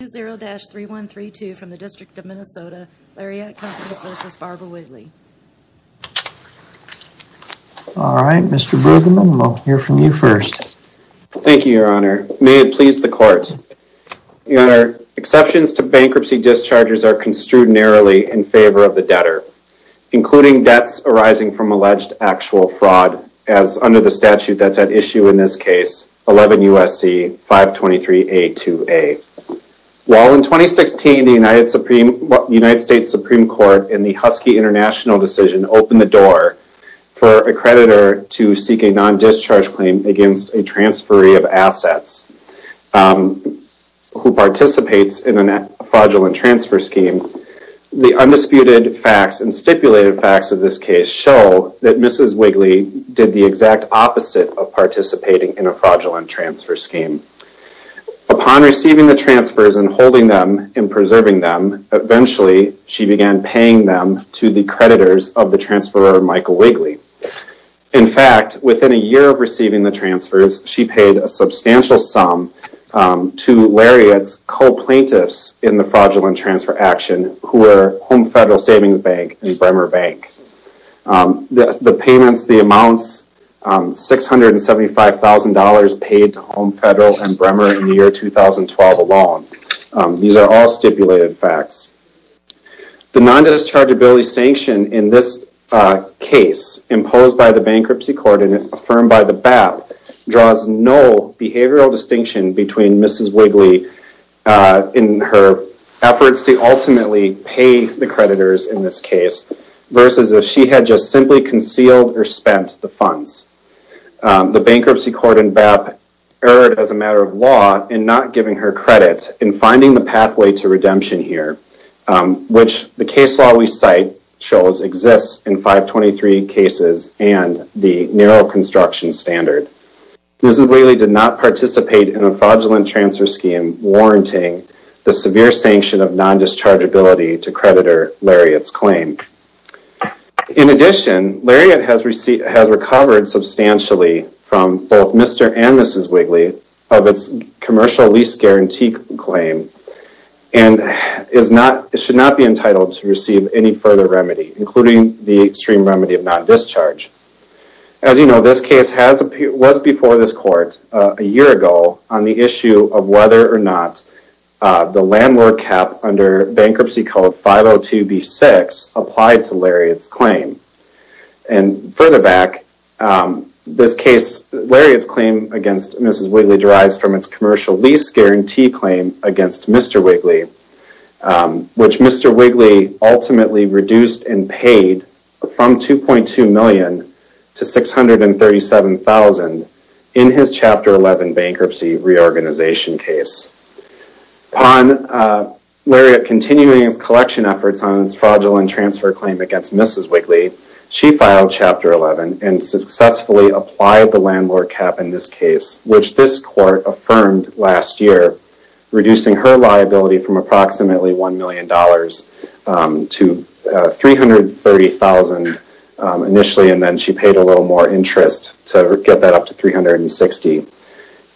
All right, Mr. Brueggemann, we'll hear from you first. Thank you, Your Honor. May it please the Court. Your Honor, exceptions to bankruptcy discharges are construed narrowly in favor of the debtor, including debts arising from alleged actual fraud, as under the statute that's at issue in this case, 11 U.S.C. 523A2A. While in 2016 the United States Supreme Court in the Husky International decision opened the door for a creditor to seek a non-discharge claim against a transferee of assets who participates in a fraudulent transfer scheme, the undisputed facts and stipulated facts of this case show that Mrs. Wigley did the exact opposite of participating in a fraudulent transfer scheme. Upon receiving the transfers and holding them and preserving them, eventually she began paying them to the creditors of the transferor, Michael Wigley. In fact, within a year of receiving the transfers, she paid a substantial sum to Lariat's co-plaintiffs in the fraudulent transfer action, who were Home Federal Savings Bank and Bremer Bank. The payments, the amounts, $675,000 paid to Home Federal and Bremer in the year 2012 alone. These are all stipulated facts. The non-dischargeability sanction in this case imposed by the bankruptcy court and affirmed by the BAP draws no behavioral distinction between Mrs. Wigley in her efforts to ultimately pay the creditors in this case versus if she had just simply concealed or spent the funds. The bankruptcy court and BAP erred as a matter of law in not giving her credit in finding the pathway to redemption here, which the case law we cite shows exists in 523 cases and the narrow construction standard. Mrs. Wigley did not participate in a fraudulent transfer scheme warranting the severe sanction of non-dischargeability to creditor Lariat's claim. In addition, Lariat has recovered substantially from both Mr. and Mrs. Wigley of its commercial lease guarantee claim and should not be entitled to receive any further remedy, including the non-discharge. As you know, this case was before this court a year ago on the issue of whether or not the landlord cap under Bankruptcy Code 502B6 applied to Lariat's claim. And further back, this case, Lariat's claim against Mrs. Wigley derives from its commercial lease guarantee claim against Mr. Wigley, which Mr. Wigley ultimately reduced and paid from $2.2 million to $637,000 in his Chapter 11 bankruptcy reorganization case. Upon Lariat continuing its collection efforts on its fraudulent transfer claim against Mrs. Wigley, she filed Chapter 11 and successfully applied the landlord cap in this case, which this court affirmed last year, reducing her liability from approximately $1 million to $330,000 initially, and then she paid a little more interest to get that up to $360,000.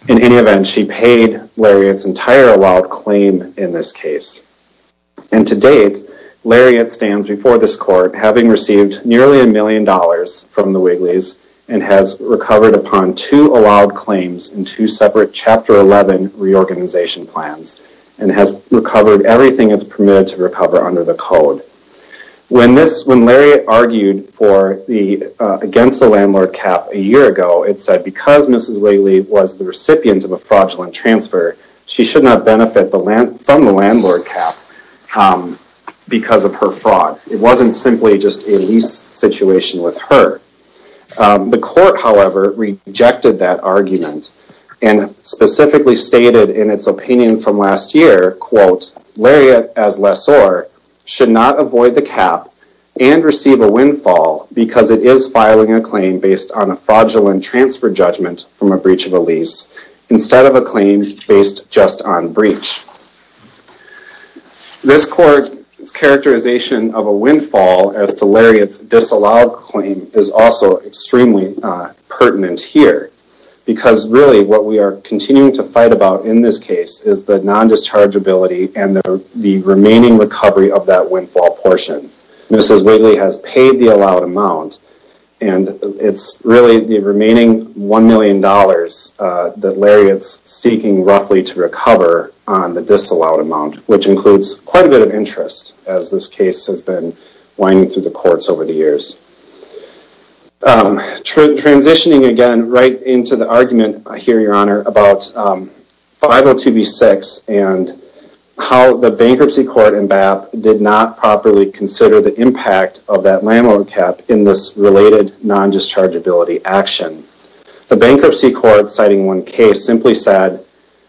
In any event, she paid Lariat's entire allowed claim in this case. And to date, Lariat stands before this court having received nearly a million dollars from the Wigleys and has recovered upon two allowed claims in two separate Chapter 11 reorganization plans and has recovered everything it's permitted to recover under the code. When Lariat argued against the landlord cap a year ago, it said because Mrs. Wigley was the recipient of a fraudulent transfer, she should not benefit from the landlord cap because of her fraud. It wasn't simply just a lease situation with her. The court, however, rejected that argument and specifically stated in its opinion from last year, quote, Lariat as lessor should not avoid the cap and receive a windfall because it is filing a claim based on a fraudulent transfer judgment from a breach of a lease instead of a claim based just on breach. This court's characterization of a windfall as to Lariat's disallowed claim is extremely pertinent here because really what we are continuing to fight about in this case is the non-dischargeability and the remaining recovery of that windfall portion. Mrs. Wigley has paid the allowed amount and it's really the remaining $1 million that Lariat's seeking roughly to recover on the disallowed amount, which includes quite a bit of interest as this case has winding through the courts over the years. Transitioning again right into the argument I hear, Your Honor, about 502B6 and how the bankruptcy court in BAP did not properly consider the impact of that landlord cap in this related non-dischargeability action. The bankruptcy court citing one case simply said,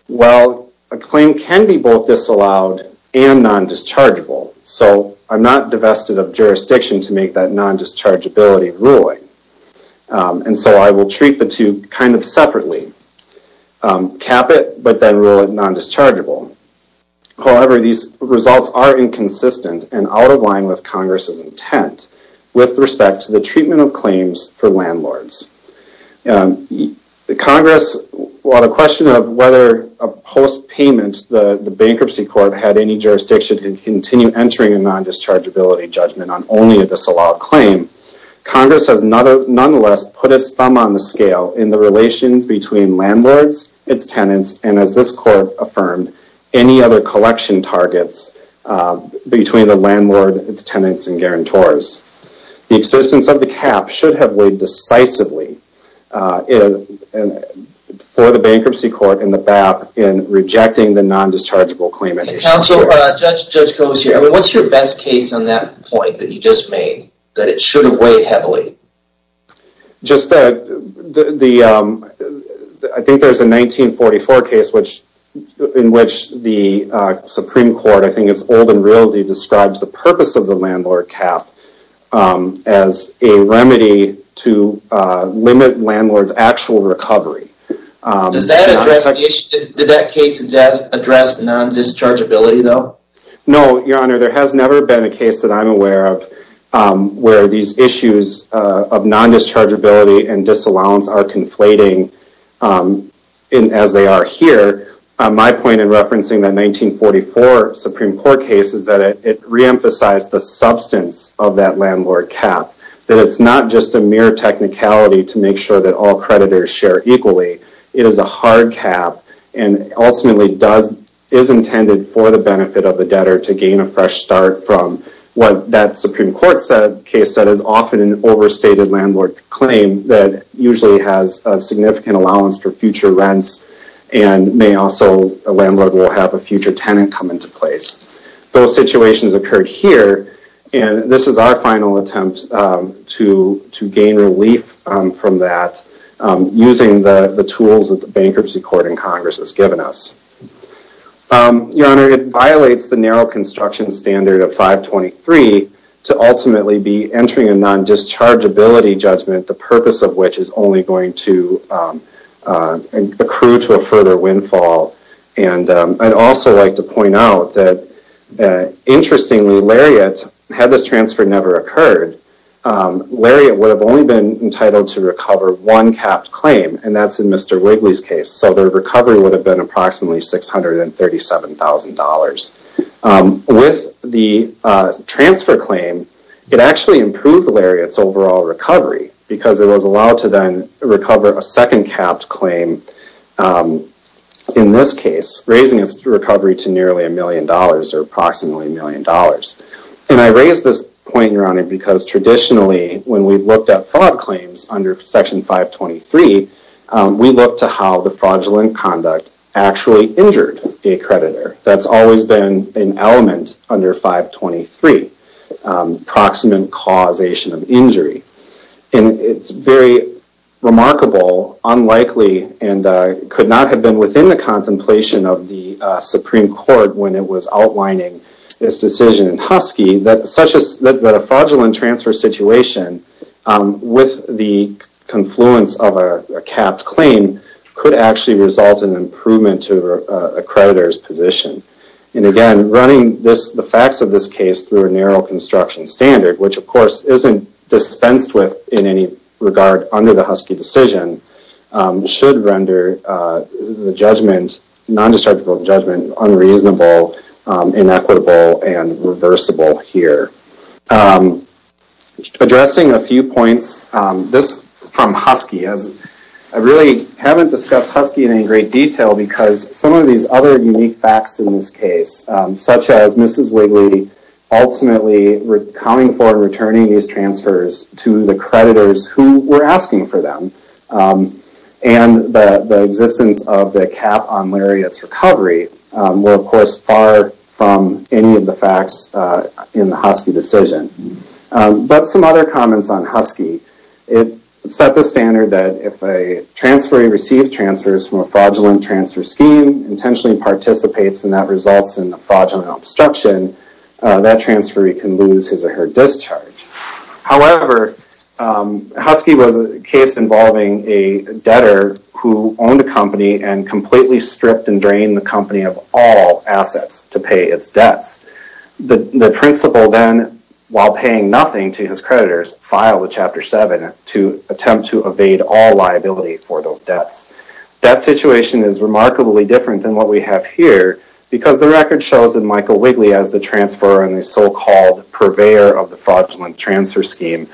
well, a claim can be both disallowed and non-dischargeable, so I'm not divested of jurisdiction to make that non-dischargeability ruling, and so I will treat the two kind of separately. Cap it, but then rule it non-dischargeable. However, these results are inconsistent and out of line with Congress's intent with respect to the treatment of claims for landlords. The Congress, while the question of whether a post payment the bankruptcy court had any jurisdiction to continue entering a non-dischargeability judgment on only a disallowed claim, Congress has nonetheless put its thumb on the scale in the relations between landlords, its tenants, and as this court affirmed, any other collection targets between the landlord, its tenants, and guarantors. The existence of the bankruptcy court and the BAP in rejecting the non-dischargeable claim... And counsel, Judge Comis here, what's your best case on that point that you just made, that it should have weighed heavily? Just the... I think there's a 1944 case in which the Supreme Court, I think it's old in realty, describes the purpose of the landlord cap as a remedy to limit landlords' actual recovery. Does that address the issue? Did that case address non-dischargeability though? No, your honor, there has never been a case that I'm aware of where these issues of non-dischargeability and disallowance are conflating as they are here. My point in referencing that 1944 Supreme Court case is that it re-emphasized the substance of that landlord cap, that it's not just a mere technicality to make sure that all creditors share equally. It is a hard cap and ultimately is intended for the benefit of the debtor to gain a fresh start from what that Supreme Court case said is often an overstated landlord claim that usually has a significant allowance for future rents and may also... A landlord will have a And this is our final attempt to gain relief from that using the tools that the bankruptcy court in Congress has given us. Your honor, it violates the narrow construction standard of 523 to ultimately be entering a non-dischargeability judgment, the purpose of which is only going to accrue to a further windfall. And I'd also like to point out that, interestingly, Lariat, had this transfer never occurred, Lariat would have only been entitled to recover one capped claim and that's in Mr. Wigley's case. So their recovery would have been approximately $637,000. With the transfer claim, it actually improved Lariat's overall recovery because it was allowed to then recover a second capped claim in this case, raising its recovery to nearly a million dollars or approximately a million dollars. And I raise this point, your honor, because traditionally when we've looked at fraud claims under section 523, we look to how the fraudulent conduct actually injured a creditor. That's always been an element under 523, proximate causation of injury. And it's very remarkable, unlikely, and could not have been within the contemplation of the Supreme Court when it was outlining this decision in Husky, that a fraudulent transfer situation with the confluence of a capped claim could actually result in improvement to a creditor's position. And again, running the facts of this case through a narrow construction standard, which of course isn't dispensed with in any regard under the Husky decision, should render the non-dischargeable judgment unreasonable, inequitable, and reversible here. Addressing a few points, this from Husky, I really haven't discussed Husky in any great detail because some of these other unique facts in this case, such as Mrs. Wigley ultimately coming forward and returning these transfers to the creditors who were asking for them, and the existence of the cap on Lariat's recovery, were of course far from any of the facts in the Husky decision. But some other comments on Husky, it set the standard that if a transferee receives transfers from a fraudulent transfer scheme, intentionally participates, and that transferee can lose his or her discharge. However, Husky was a case involving a debtor who owned a company and completely stripped and drained the company of all assets to pay its debts. The principal then, while paying nothing to his creditors, filed a Chapter 7 to attempt to evade all liability for those debts. That situation is remarkably different than what we have here because the record shows that Michael Wigley, as the transfer and the so-called purveyor of the fraudulent transfer scheme,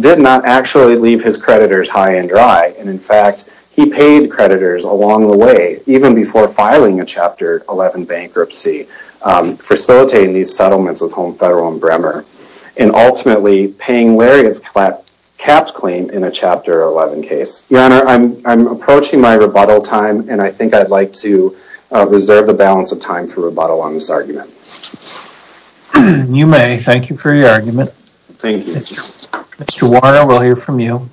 did not actually leave his creditors high and dry. And in fact, he paid creditors along the way, even before filing a Chapter 11 bankruptcy, facilitating these settlements with Home Federal and Bremer, and ultimately paying Lariat's capped claim in a Chapter 11 case. Your Honor, I'm approaching my rebuttal time and I think I'd like to reserve the balance of time for rebuttal on this argument. You may. Thank you for your argument. Thank you. Mr. Warner, we'll hear from you.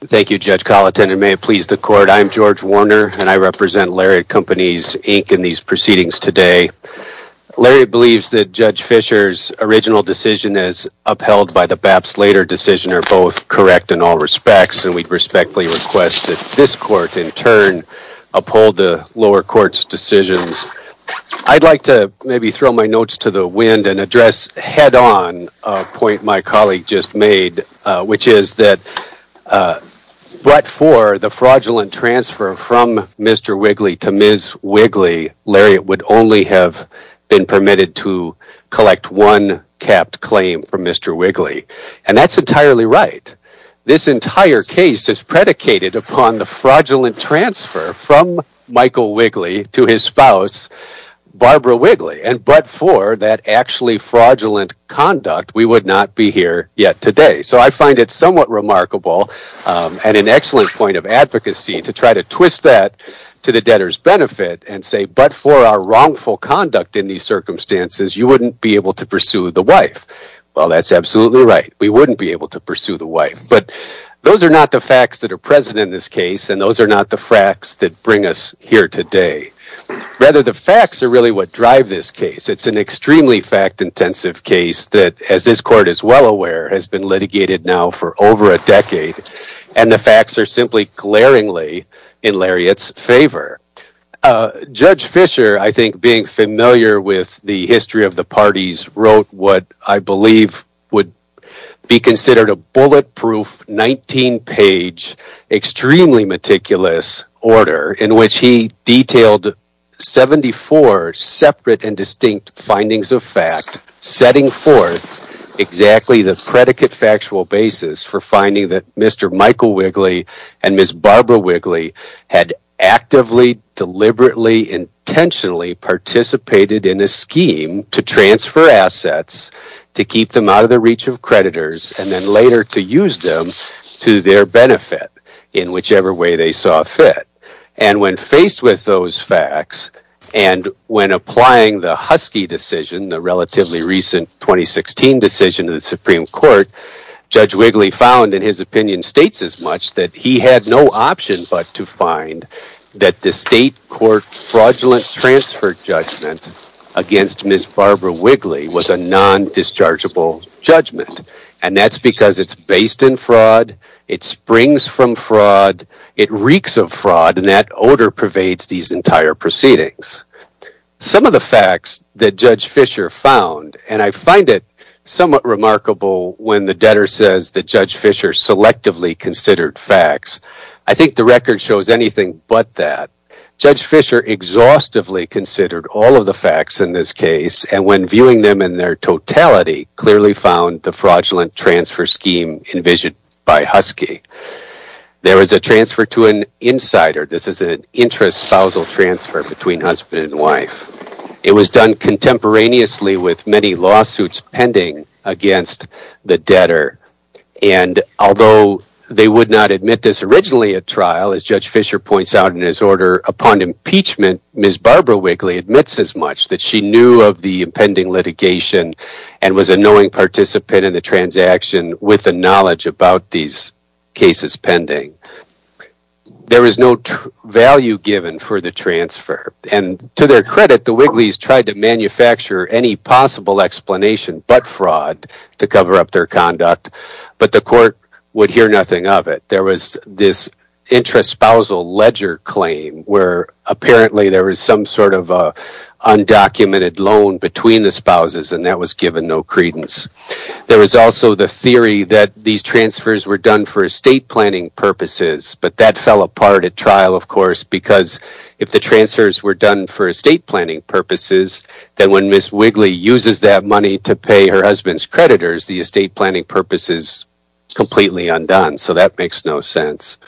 Thank you, Judge Colleton. It may have pleased the Court. I'm George Warner and I represent Lariat Companies, Inc. in these proceedings today. Lariat believes that Judge Fisher's original decision, as upheld by the Baps-Later decision, are both correct in all respects and we respectfully request that this Court, in turn, uphold the lower court's decisions. I'd like to maybe throw my notes to the wind and address head-on a point my colleague just made, which is that but for the fraudulent transfer from Mr. Wigley to Ms. Wigley, Lariat would only have been permitted to collect one capped claim from Michael Wigley to his spouse, Barbara Wigley. And but for that actually fraudulent conduct, we would not be here yet today. So I find it somewhat remarkable and an excellent point of advocacy to try to twist that to the debtor's benefit and say, but for our wrongful conduct in these circumstances, you wouldn't be able to pursue the wife. Well, that's absolutely right. We wouldn't be able to pursue the wife. But those are not the facts that are present in this case and those are not the facts that bring us here today. Rather, the facts are really what drive this case. It's an extremely fact-intensive case that, as this Court is well aware, has been litigated now for over a decade and the facts are simply glaringly in Lariat's favor. Judge Fisher, I think being familiar with the history of the parties, wrote what I believe would be considered a bulletproof, 19-page, extremely meticulous order in which he detailed 74 separate and distinct findings of fact, setting forth exactly the predicate factual basis for finding that Mr. Michael Wigley and Ms. Barbara Wigley had actively, deliberately, intentionally participated in a scheme to transfer assets, to keep them out of the reach of creditors, and then later to use them to their benefit in whichever way they saw fit. And when faced with those facts and when applying the Husky decision, the relatively recent 2016 decision of the Supreme Court, Judge Wigley found in his opinion states as much that he had no option but to find that the state court fraudulent transfer judgment against Ms. Barbara Wigley was a non-dischargeable judgment. And that's because it's based in fraud, it springs from fraud, it reeks of fraud, and that odor pervades these entire proceedings. Some of the facts that Judge Fisher found, and I find it somewhat remarkable when the debtor says that Judge Fisher selectively considered facts, I think the record shows anything but that. Judge Fisher exhaustively considered all of the facts in this case, and when viewing them in their totality, clearly found the fraudulent transfer scheme envisioned by Husky. There was a transfer to an insider, this is an intra-spousal transfer between husband and wife. It was done contemporaneously with many lawsuits pending against the debtor. And although they would not admit this originally at trial, as Judge Fisher points out in his order, upon impeachment, Ms. Barbara Wigley admits as much that she knew of the impending litigation and was a knowing participant in the transaction with the knowledge about these cases pending. There is no value given for the transfer, and to their credit, the Wigleys tried to manufacture any possible explanation but fraud to cover up their conduct, but the court would hear nothing of it. There was this intra-spousal ledger claim where apparently there was some sort of undocumented loan between the spouses and that was given no credence. There was also the theory that these transfers were done for estate planning purposes, but that fell apart at trial, of course, because if the transfers were done for estate planning purposes, then when Ms. Wigley uses that money to pay her husband's creditors, the estate planning purpose is completely undone, so that makes no sense.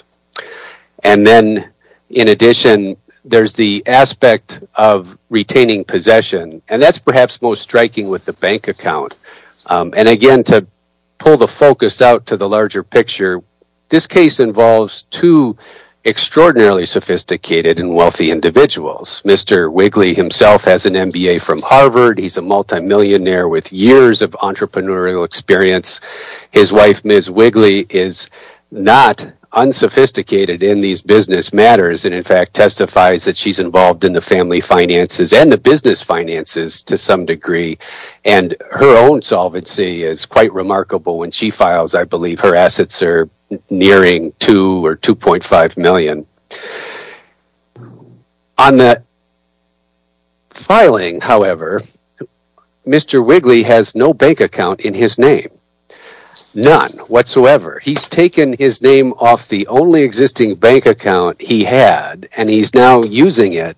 And then, in addition, there's the aspect of retaining possession, and that's perhaps most striking with the bank account. And again, to pull the focus out to the larger picture, this case involves two extraordinarily sophisticated and wealthy individuals. Mr. Wigley himself has an MBA from Harvard. He's a multimillionaire with years of entrepreneurial experience. His wife, Ms. Wigley, is not unsophisticated in these business matters and, in fact, testifies that she's involved in the finances and the business finances to some degree, and her own solvency is quite remarkable. When she files, I believe her assets are nearing 2 or 2.5 million. On the filing, however, Mr. Wigley has no bank account in his name, none whatsoever. He's taken his name off the only existing bank account he had, and he's now using it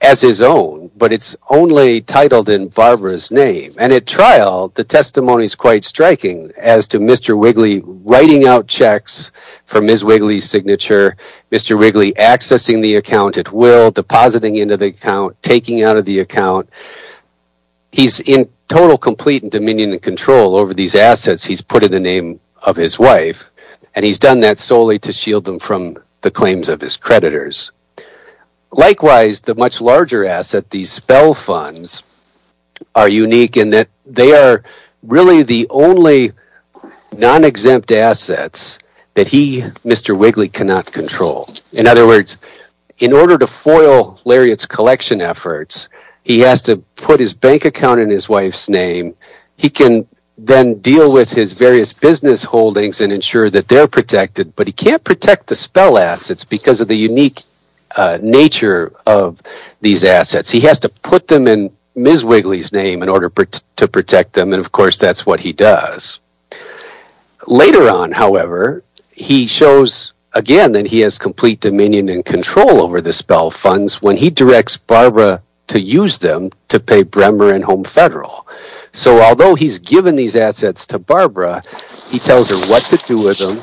as his own, but it's only titled in Barbara's name. And at trial, the testimony is quite striking as to Mr. Wigley writing out checks from Ms. Wigley's signature, Mr. Wigley accessing the account at will, depositing into the account, taking out of the account. He's in total complete dominion and control over these assets he's put in the name of his wife, and he's done that solely to shield them from the claims of his creditors. Likewise, the much larger asset, these spell funds, are unique in that they are really the only non-exempt assets that he, Mr. Wigley, cannot control. In other words, in order to foil Lariat's collection efforts, he has to put his bank account in his wife's name. He can then deal with his various business holdings and ensure that they're protected, but he can't protect the spell assets because of the unique nature of these assets. He has to put them in Ms. Wigley's name in order to protect them, and of course, that's what he does. Later on, however, he shows again that he has complete dominion and control over the spell funds when he directs Barbara to use them to pay Bremer and Home Federal. So although he's given these assets to Barbara, he tells her what to do with them,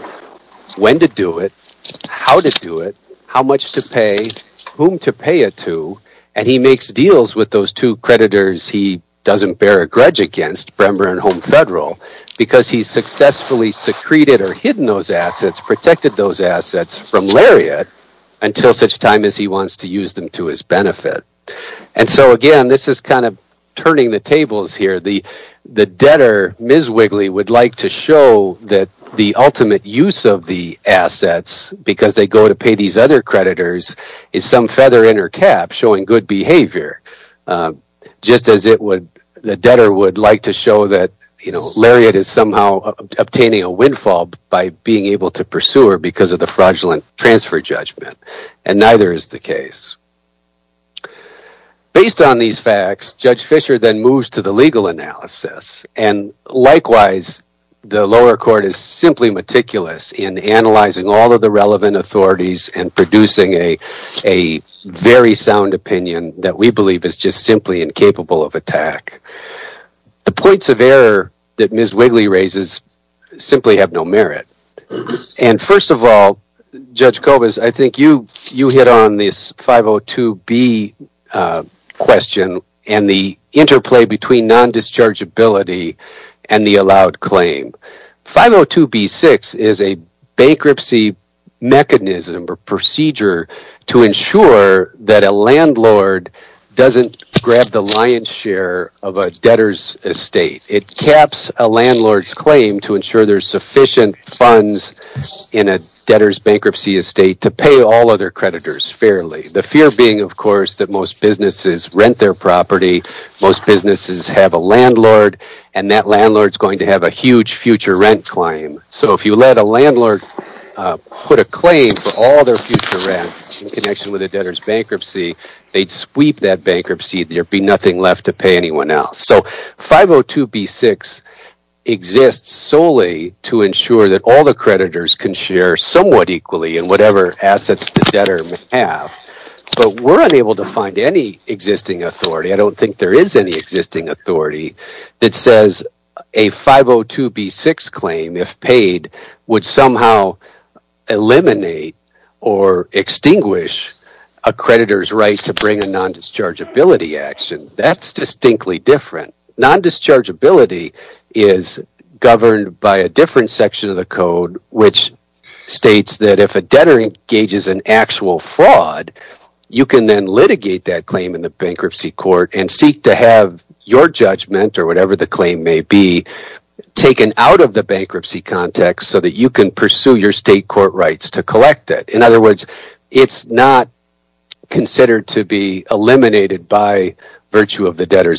when to do it, how to do it, how much to pay, whom to pay it to, and he makes deals with those two creditors he doesn't bear a grudge against, Bremer and Home Federal, because he's successfully secreted or hidden those assets, protected those assets from Lariat until such time as he wants to use them to his benefit. And so again, this is kind of turning the tables here. The debtor, Ms. Wigley, would like to show that the ultimate use of the assets because they go to pay these other creditors is some feather in her cap showing good behavior, just as the debtor would like to show that Lariat is somehow obtaining a windfall by being able to pursue her because of fraudulent transfer judgment, and neither is the case. Based on these facts, Judge Fisher then moves to the legal analysis, and likewise, the lower court is simply meticulous in analyzing all of the relevant authorities and producing a very sound opinion that we believe is just simply incapable of attack. The points of error that Ms. Wigley raises simply have no merit, and first of all, Judge Kobus, I think you hit on this 502B question and the interplay between non-dischargeability and the allowed claim. 502B-6 is a bankruptcy mechanism or procedure to ensure that a landlord doesn't grab the lion's share of a debtor's estate. It caps a landlord's claim to ensure there's debtor's bankruptcy estate to pay all other creditors fairly. The fear being, of course, that most businesses rent their property, most businesses have a landlord, and that landlord is going to have a huge future rent claim. So if you let a landlord put a claim for all their future rents in connection with a debtor's bankruptcy, they'd sweep that bankruptcy. There'd be nothing left to pay anyone else. So 502B-6 exists solely to ensure that all the creditors can share somewhat equally in whatever assets the debtor may have, but we're unable to find any existing authority. I don't think there is any existing authority that says a 502B-6 claim, if paid, would somehow eliminate or extinguish a creditor's right to bring a non-dischargeability action. That's distinctly different. Non-dischargeability is governed by a different section of the code, which states that if a debtor engages in actual fraud, you can then litigate that claim in the bankruptcy court and seek to have your judgment, or whatever the claim may be, taken out of the bankruptcy context so that you can pursue your state court rights to collect it. In other words, it's not considered to be eliminated by virtue of wrongful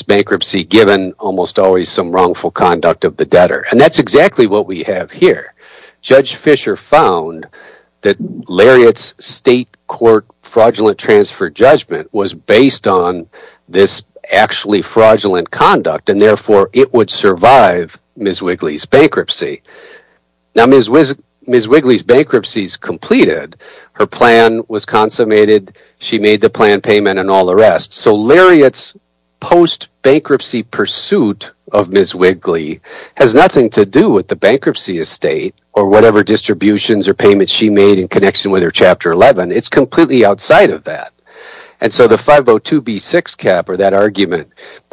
conduct of the debtor. And that's exactly what we have here. Judge Fischer found that Lariat's state court fraudulent transfer judgment was based on this actually fraudulent conduct, and therefore it would survive Ms. Wigley's bankruptcy. Now, Ms. Wigley's bankruptcy is completed. Her plan was consummated. She made the plan payment and all the rest. So Lariat's bankruptcy pursuit of Ms. Wigley has nothing to do with the bankruptcy estate or whatever distributions or payments she made in connection with her Chapter 11. It's completely outside of that. And so the 502b6 cap or that argument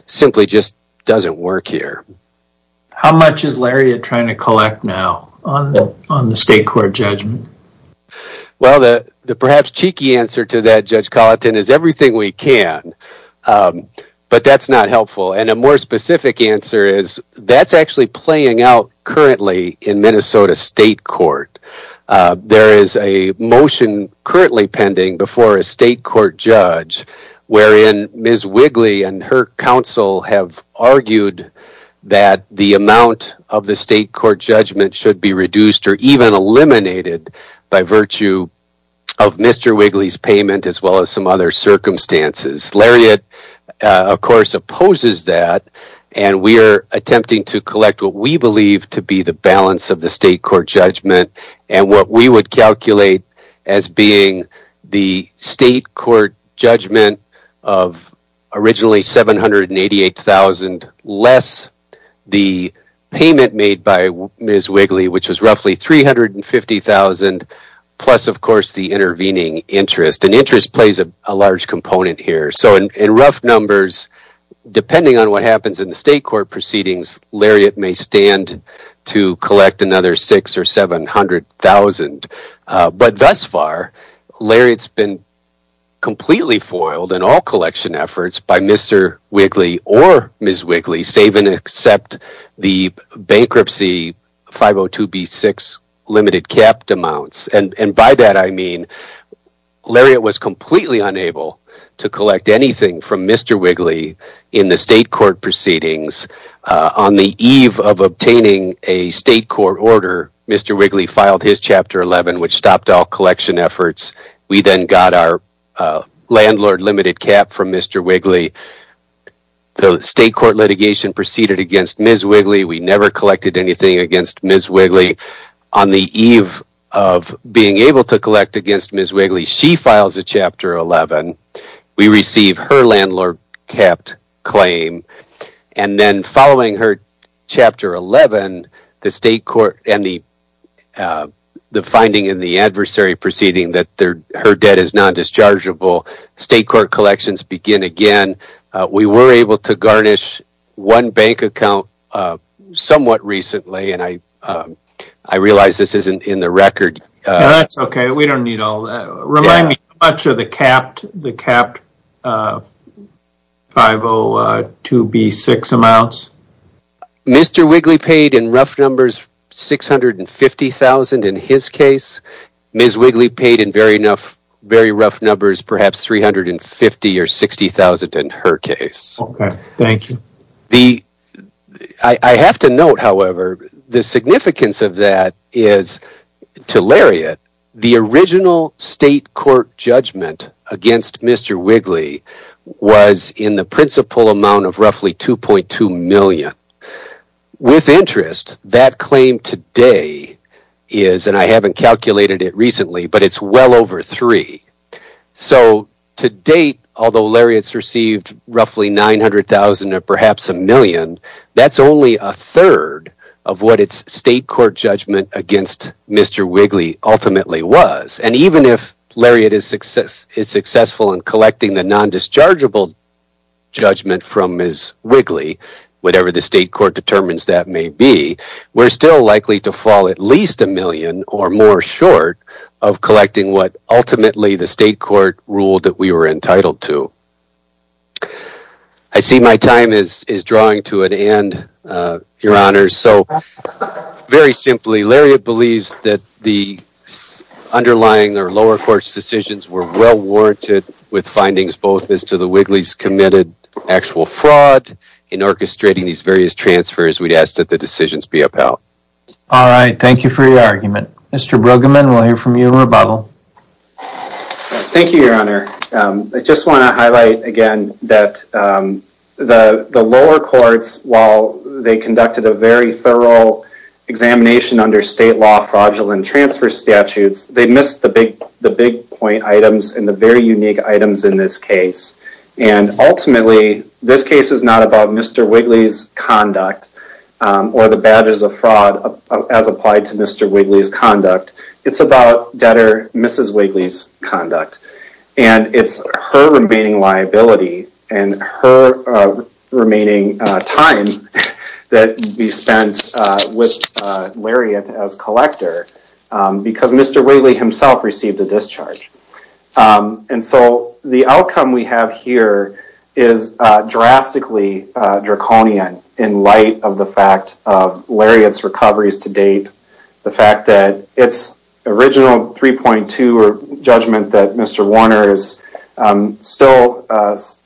simply just doesn't work here. How much is Lariat trying to collect now on the state court judgment? Well, the perhaps cheeky answer to that, Judge Colleton, is everything we can. But that's not helpful. And a more specific answer is that's actually playing out currently in Minnesota state court. There is a motion currently pending before a state court judge wherein Ms. Wigley and her counsel have argued that the amount of the state court judgment should be reduced or even eliminated by virtue of Mr. Wigley's payment as well as some circumstances. Lariat, of course, opposes that. And we are attempting to collect what we believe to be the balance of the state court judgment and what we would calculate as being the state court judgment of originally $788,000 less the payment made by Ms. Wigley, which was roughly $350,000, plus, of course, the intervening interest. And interest plays a large component here. So in rough numbers, depending on what happens in the state court proceedings, Lariat may stand to collect another $600,000 or $700,000. But thus far, Lariat's been completely foiled in all collection efforts by Mr. Wigley or Ms. Wigley, save and except the bankruptcy 502B6 limited cap amounts. And by that, I mean Lariat was completely unable to collect anything from Mr. Wigley in the state court proceedings on the eve of obtaining a state court order. Mr. Wigley filed his Chapter 11, which stopped all collection efforts. We then got our landlord limited cap from Mr. Wigley. The state court litigation proceeded against Ms. Wigley. We never collected anything against Ms. Wigley. On the eve of being able to collect against Ms. Wigley, she files a Chapter 11. We receive her landlord capped claim. And then following her Chapter 11, the state court and the finding in the adversary proceeding that her debt is non-dischargeable, state court collections begin again. We were able to garnish one bank account somewhat recently, and I realize this isn't in the record. That's okay, we don't need all that. Remind me how much of the capped 502B6 amounts? Mr. Wigley paid in rough numbers $650,000 in his case. Ms. Wigley paid in very rough numbers, perhaps $350,000 or $60,000 in her case. Okay, thank you. I have to note, however, the significance of that is to Lariat, the original state court judgment against Mr. Wigley was in the principal amount of roughly $2.2 million. With interest, that claim today is, and I haven't calculated it recently, but it's well over three. So to date, although Lariat's roughly $900,000 or perhaps a million, that's only a third of what its state court judgment against Mr. Wigley ultimately was. And even if Lariat is successful in collecting the non-dischargeable judgment from Ms. Wigley, whatever the state court determines that may be, we're still likely to fall at least a million or more short of collecting what ultimately the state court ruled that we were entitled to. I see my time is drawing to an end, your honors. So very simply, Lariat believes that the underlying or lower court's decisions were well warranted with findings both as to the Wigley's committed actual fraud in orchestrating these various transfers, we'd ask that the decisions be upheld. All right, thank you for your time. Thank you, your honor. I just want to highlight again that the lower courts, while they conducted a very thorough examination under state law, fraudulent transfer statutes, they missed the big point items and the very unique items in this case. And ultimately, this case is not about Mr. Wigley's conduct or the badges of fraud as applied to Mr. Wigley's conduct. And it's her remaining liability and her remaining time that would be spent with Lariat as collector because Mr. Wigley himself received a discharge. And so the outcome we have here is drastically draconian in light of the fact of Lariat's recoveries to date, the fact that its original 3.2 judgment that Mr. Warner is still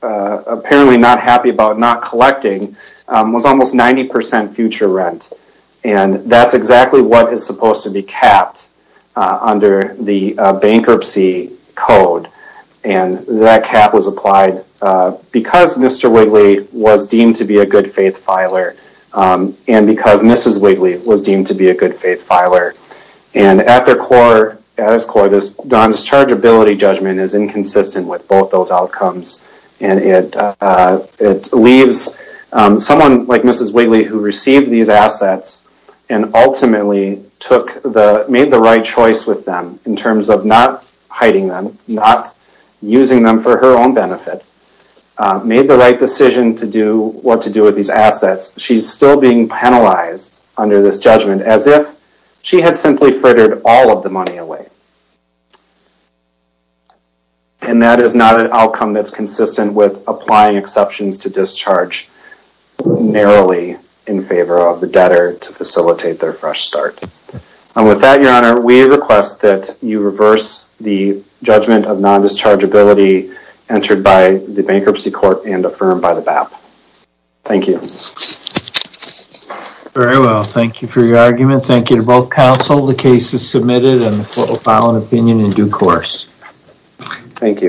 apparently not happy about not collecting was almost 90% future rent. And that's exactly what is supposed to be capped under the bankruptcy code. And that cap was applied because Mr. Wigley was deemed to be a good faith filer and because Mrs. Wigley was deemed to be a good faith filer. And at its core, this dischargeability judgment is inconsistent with both those outcomes. And it leaves someone like Mrs. Wigley who received these assets and ultimately made the right choice with them in terms of not hiding them, not using them for her own benefit, made the right decision to do what with these assets. She's still being penalized under this judgment as if she had simply frittered all of the money away. And that is not an outcome that's consistent with applying exceptions to discharge narrowly in favor of the debtor to facilitate their fresh start. And with that, Your Honor, we request that you reverse the judgment of non-dischargeability entered by the bankruptcy court and affirmed by the BAP. Thank you. Very well. Thank you for your argument. Thank you to both counsel. The case is submitted and the court will file an opinion in due course. Thank you.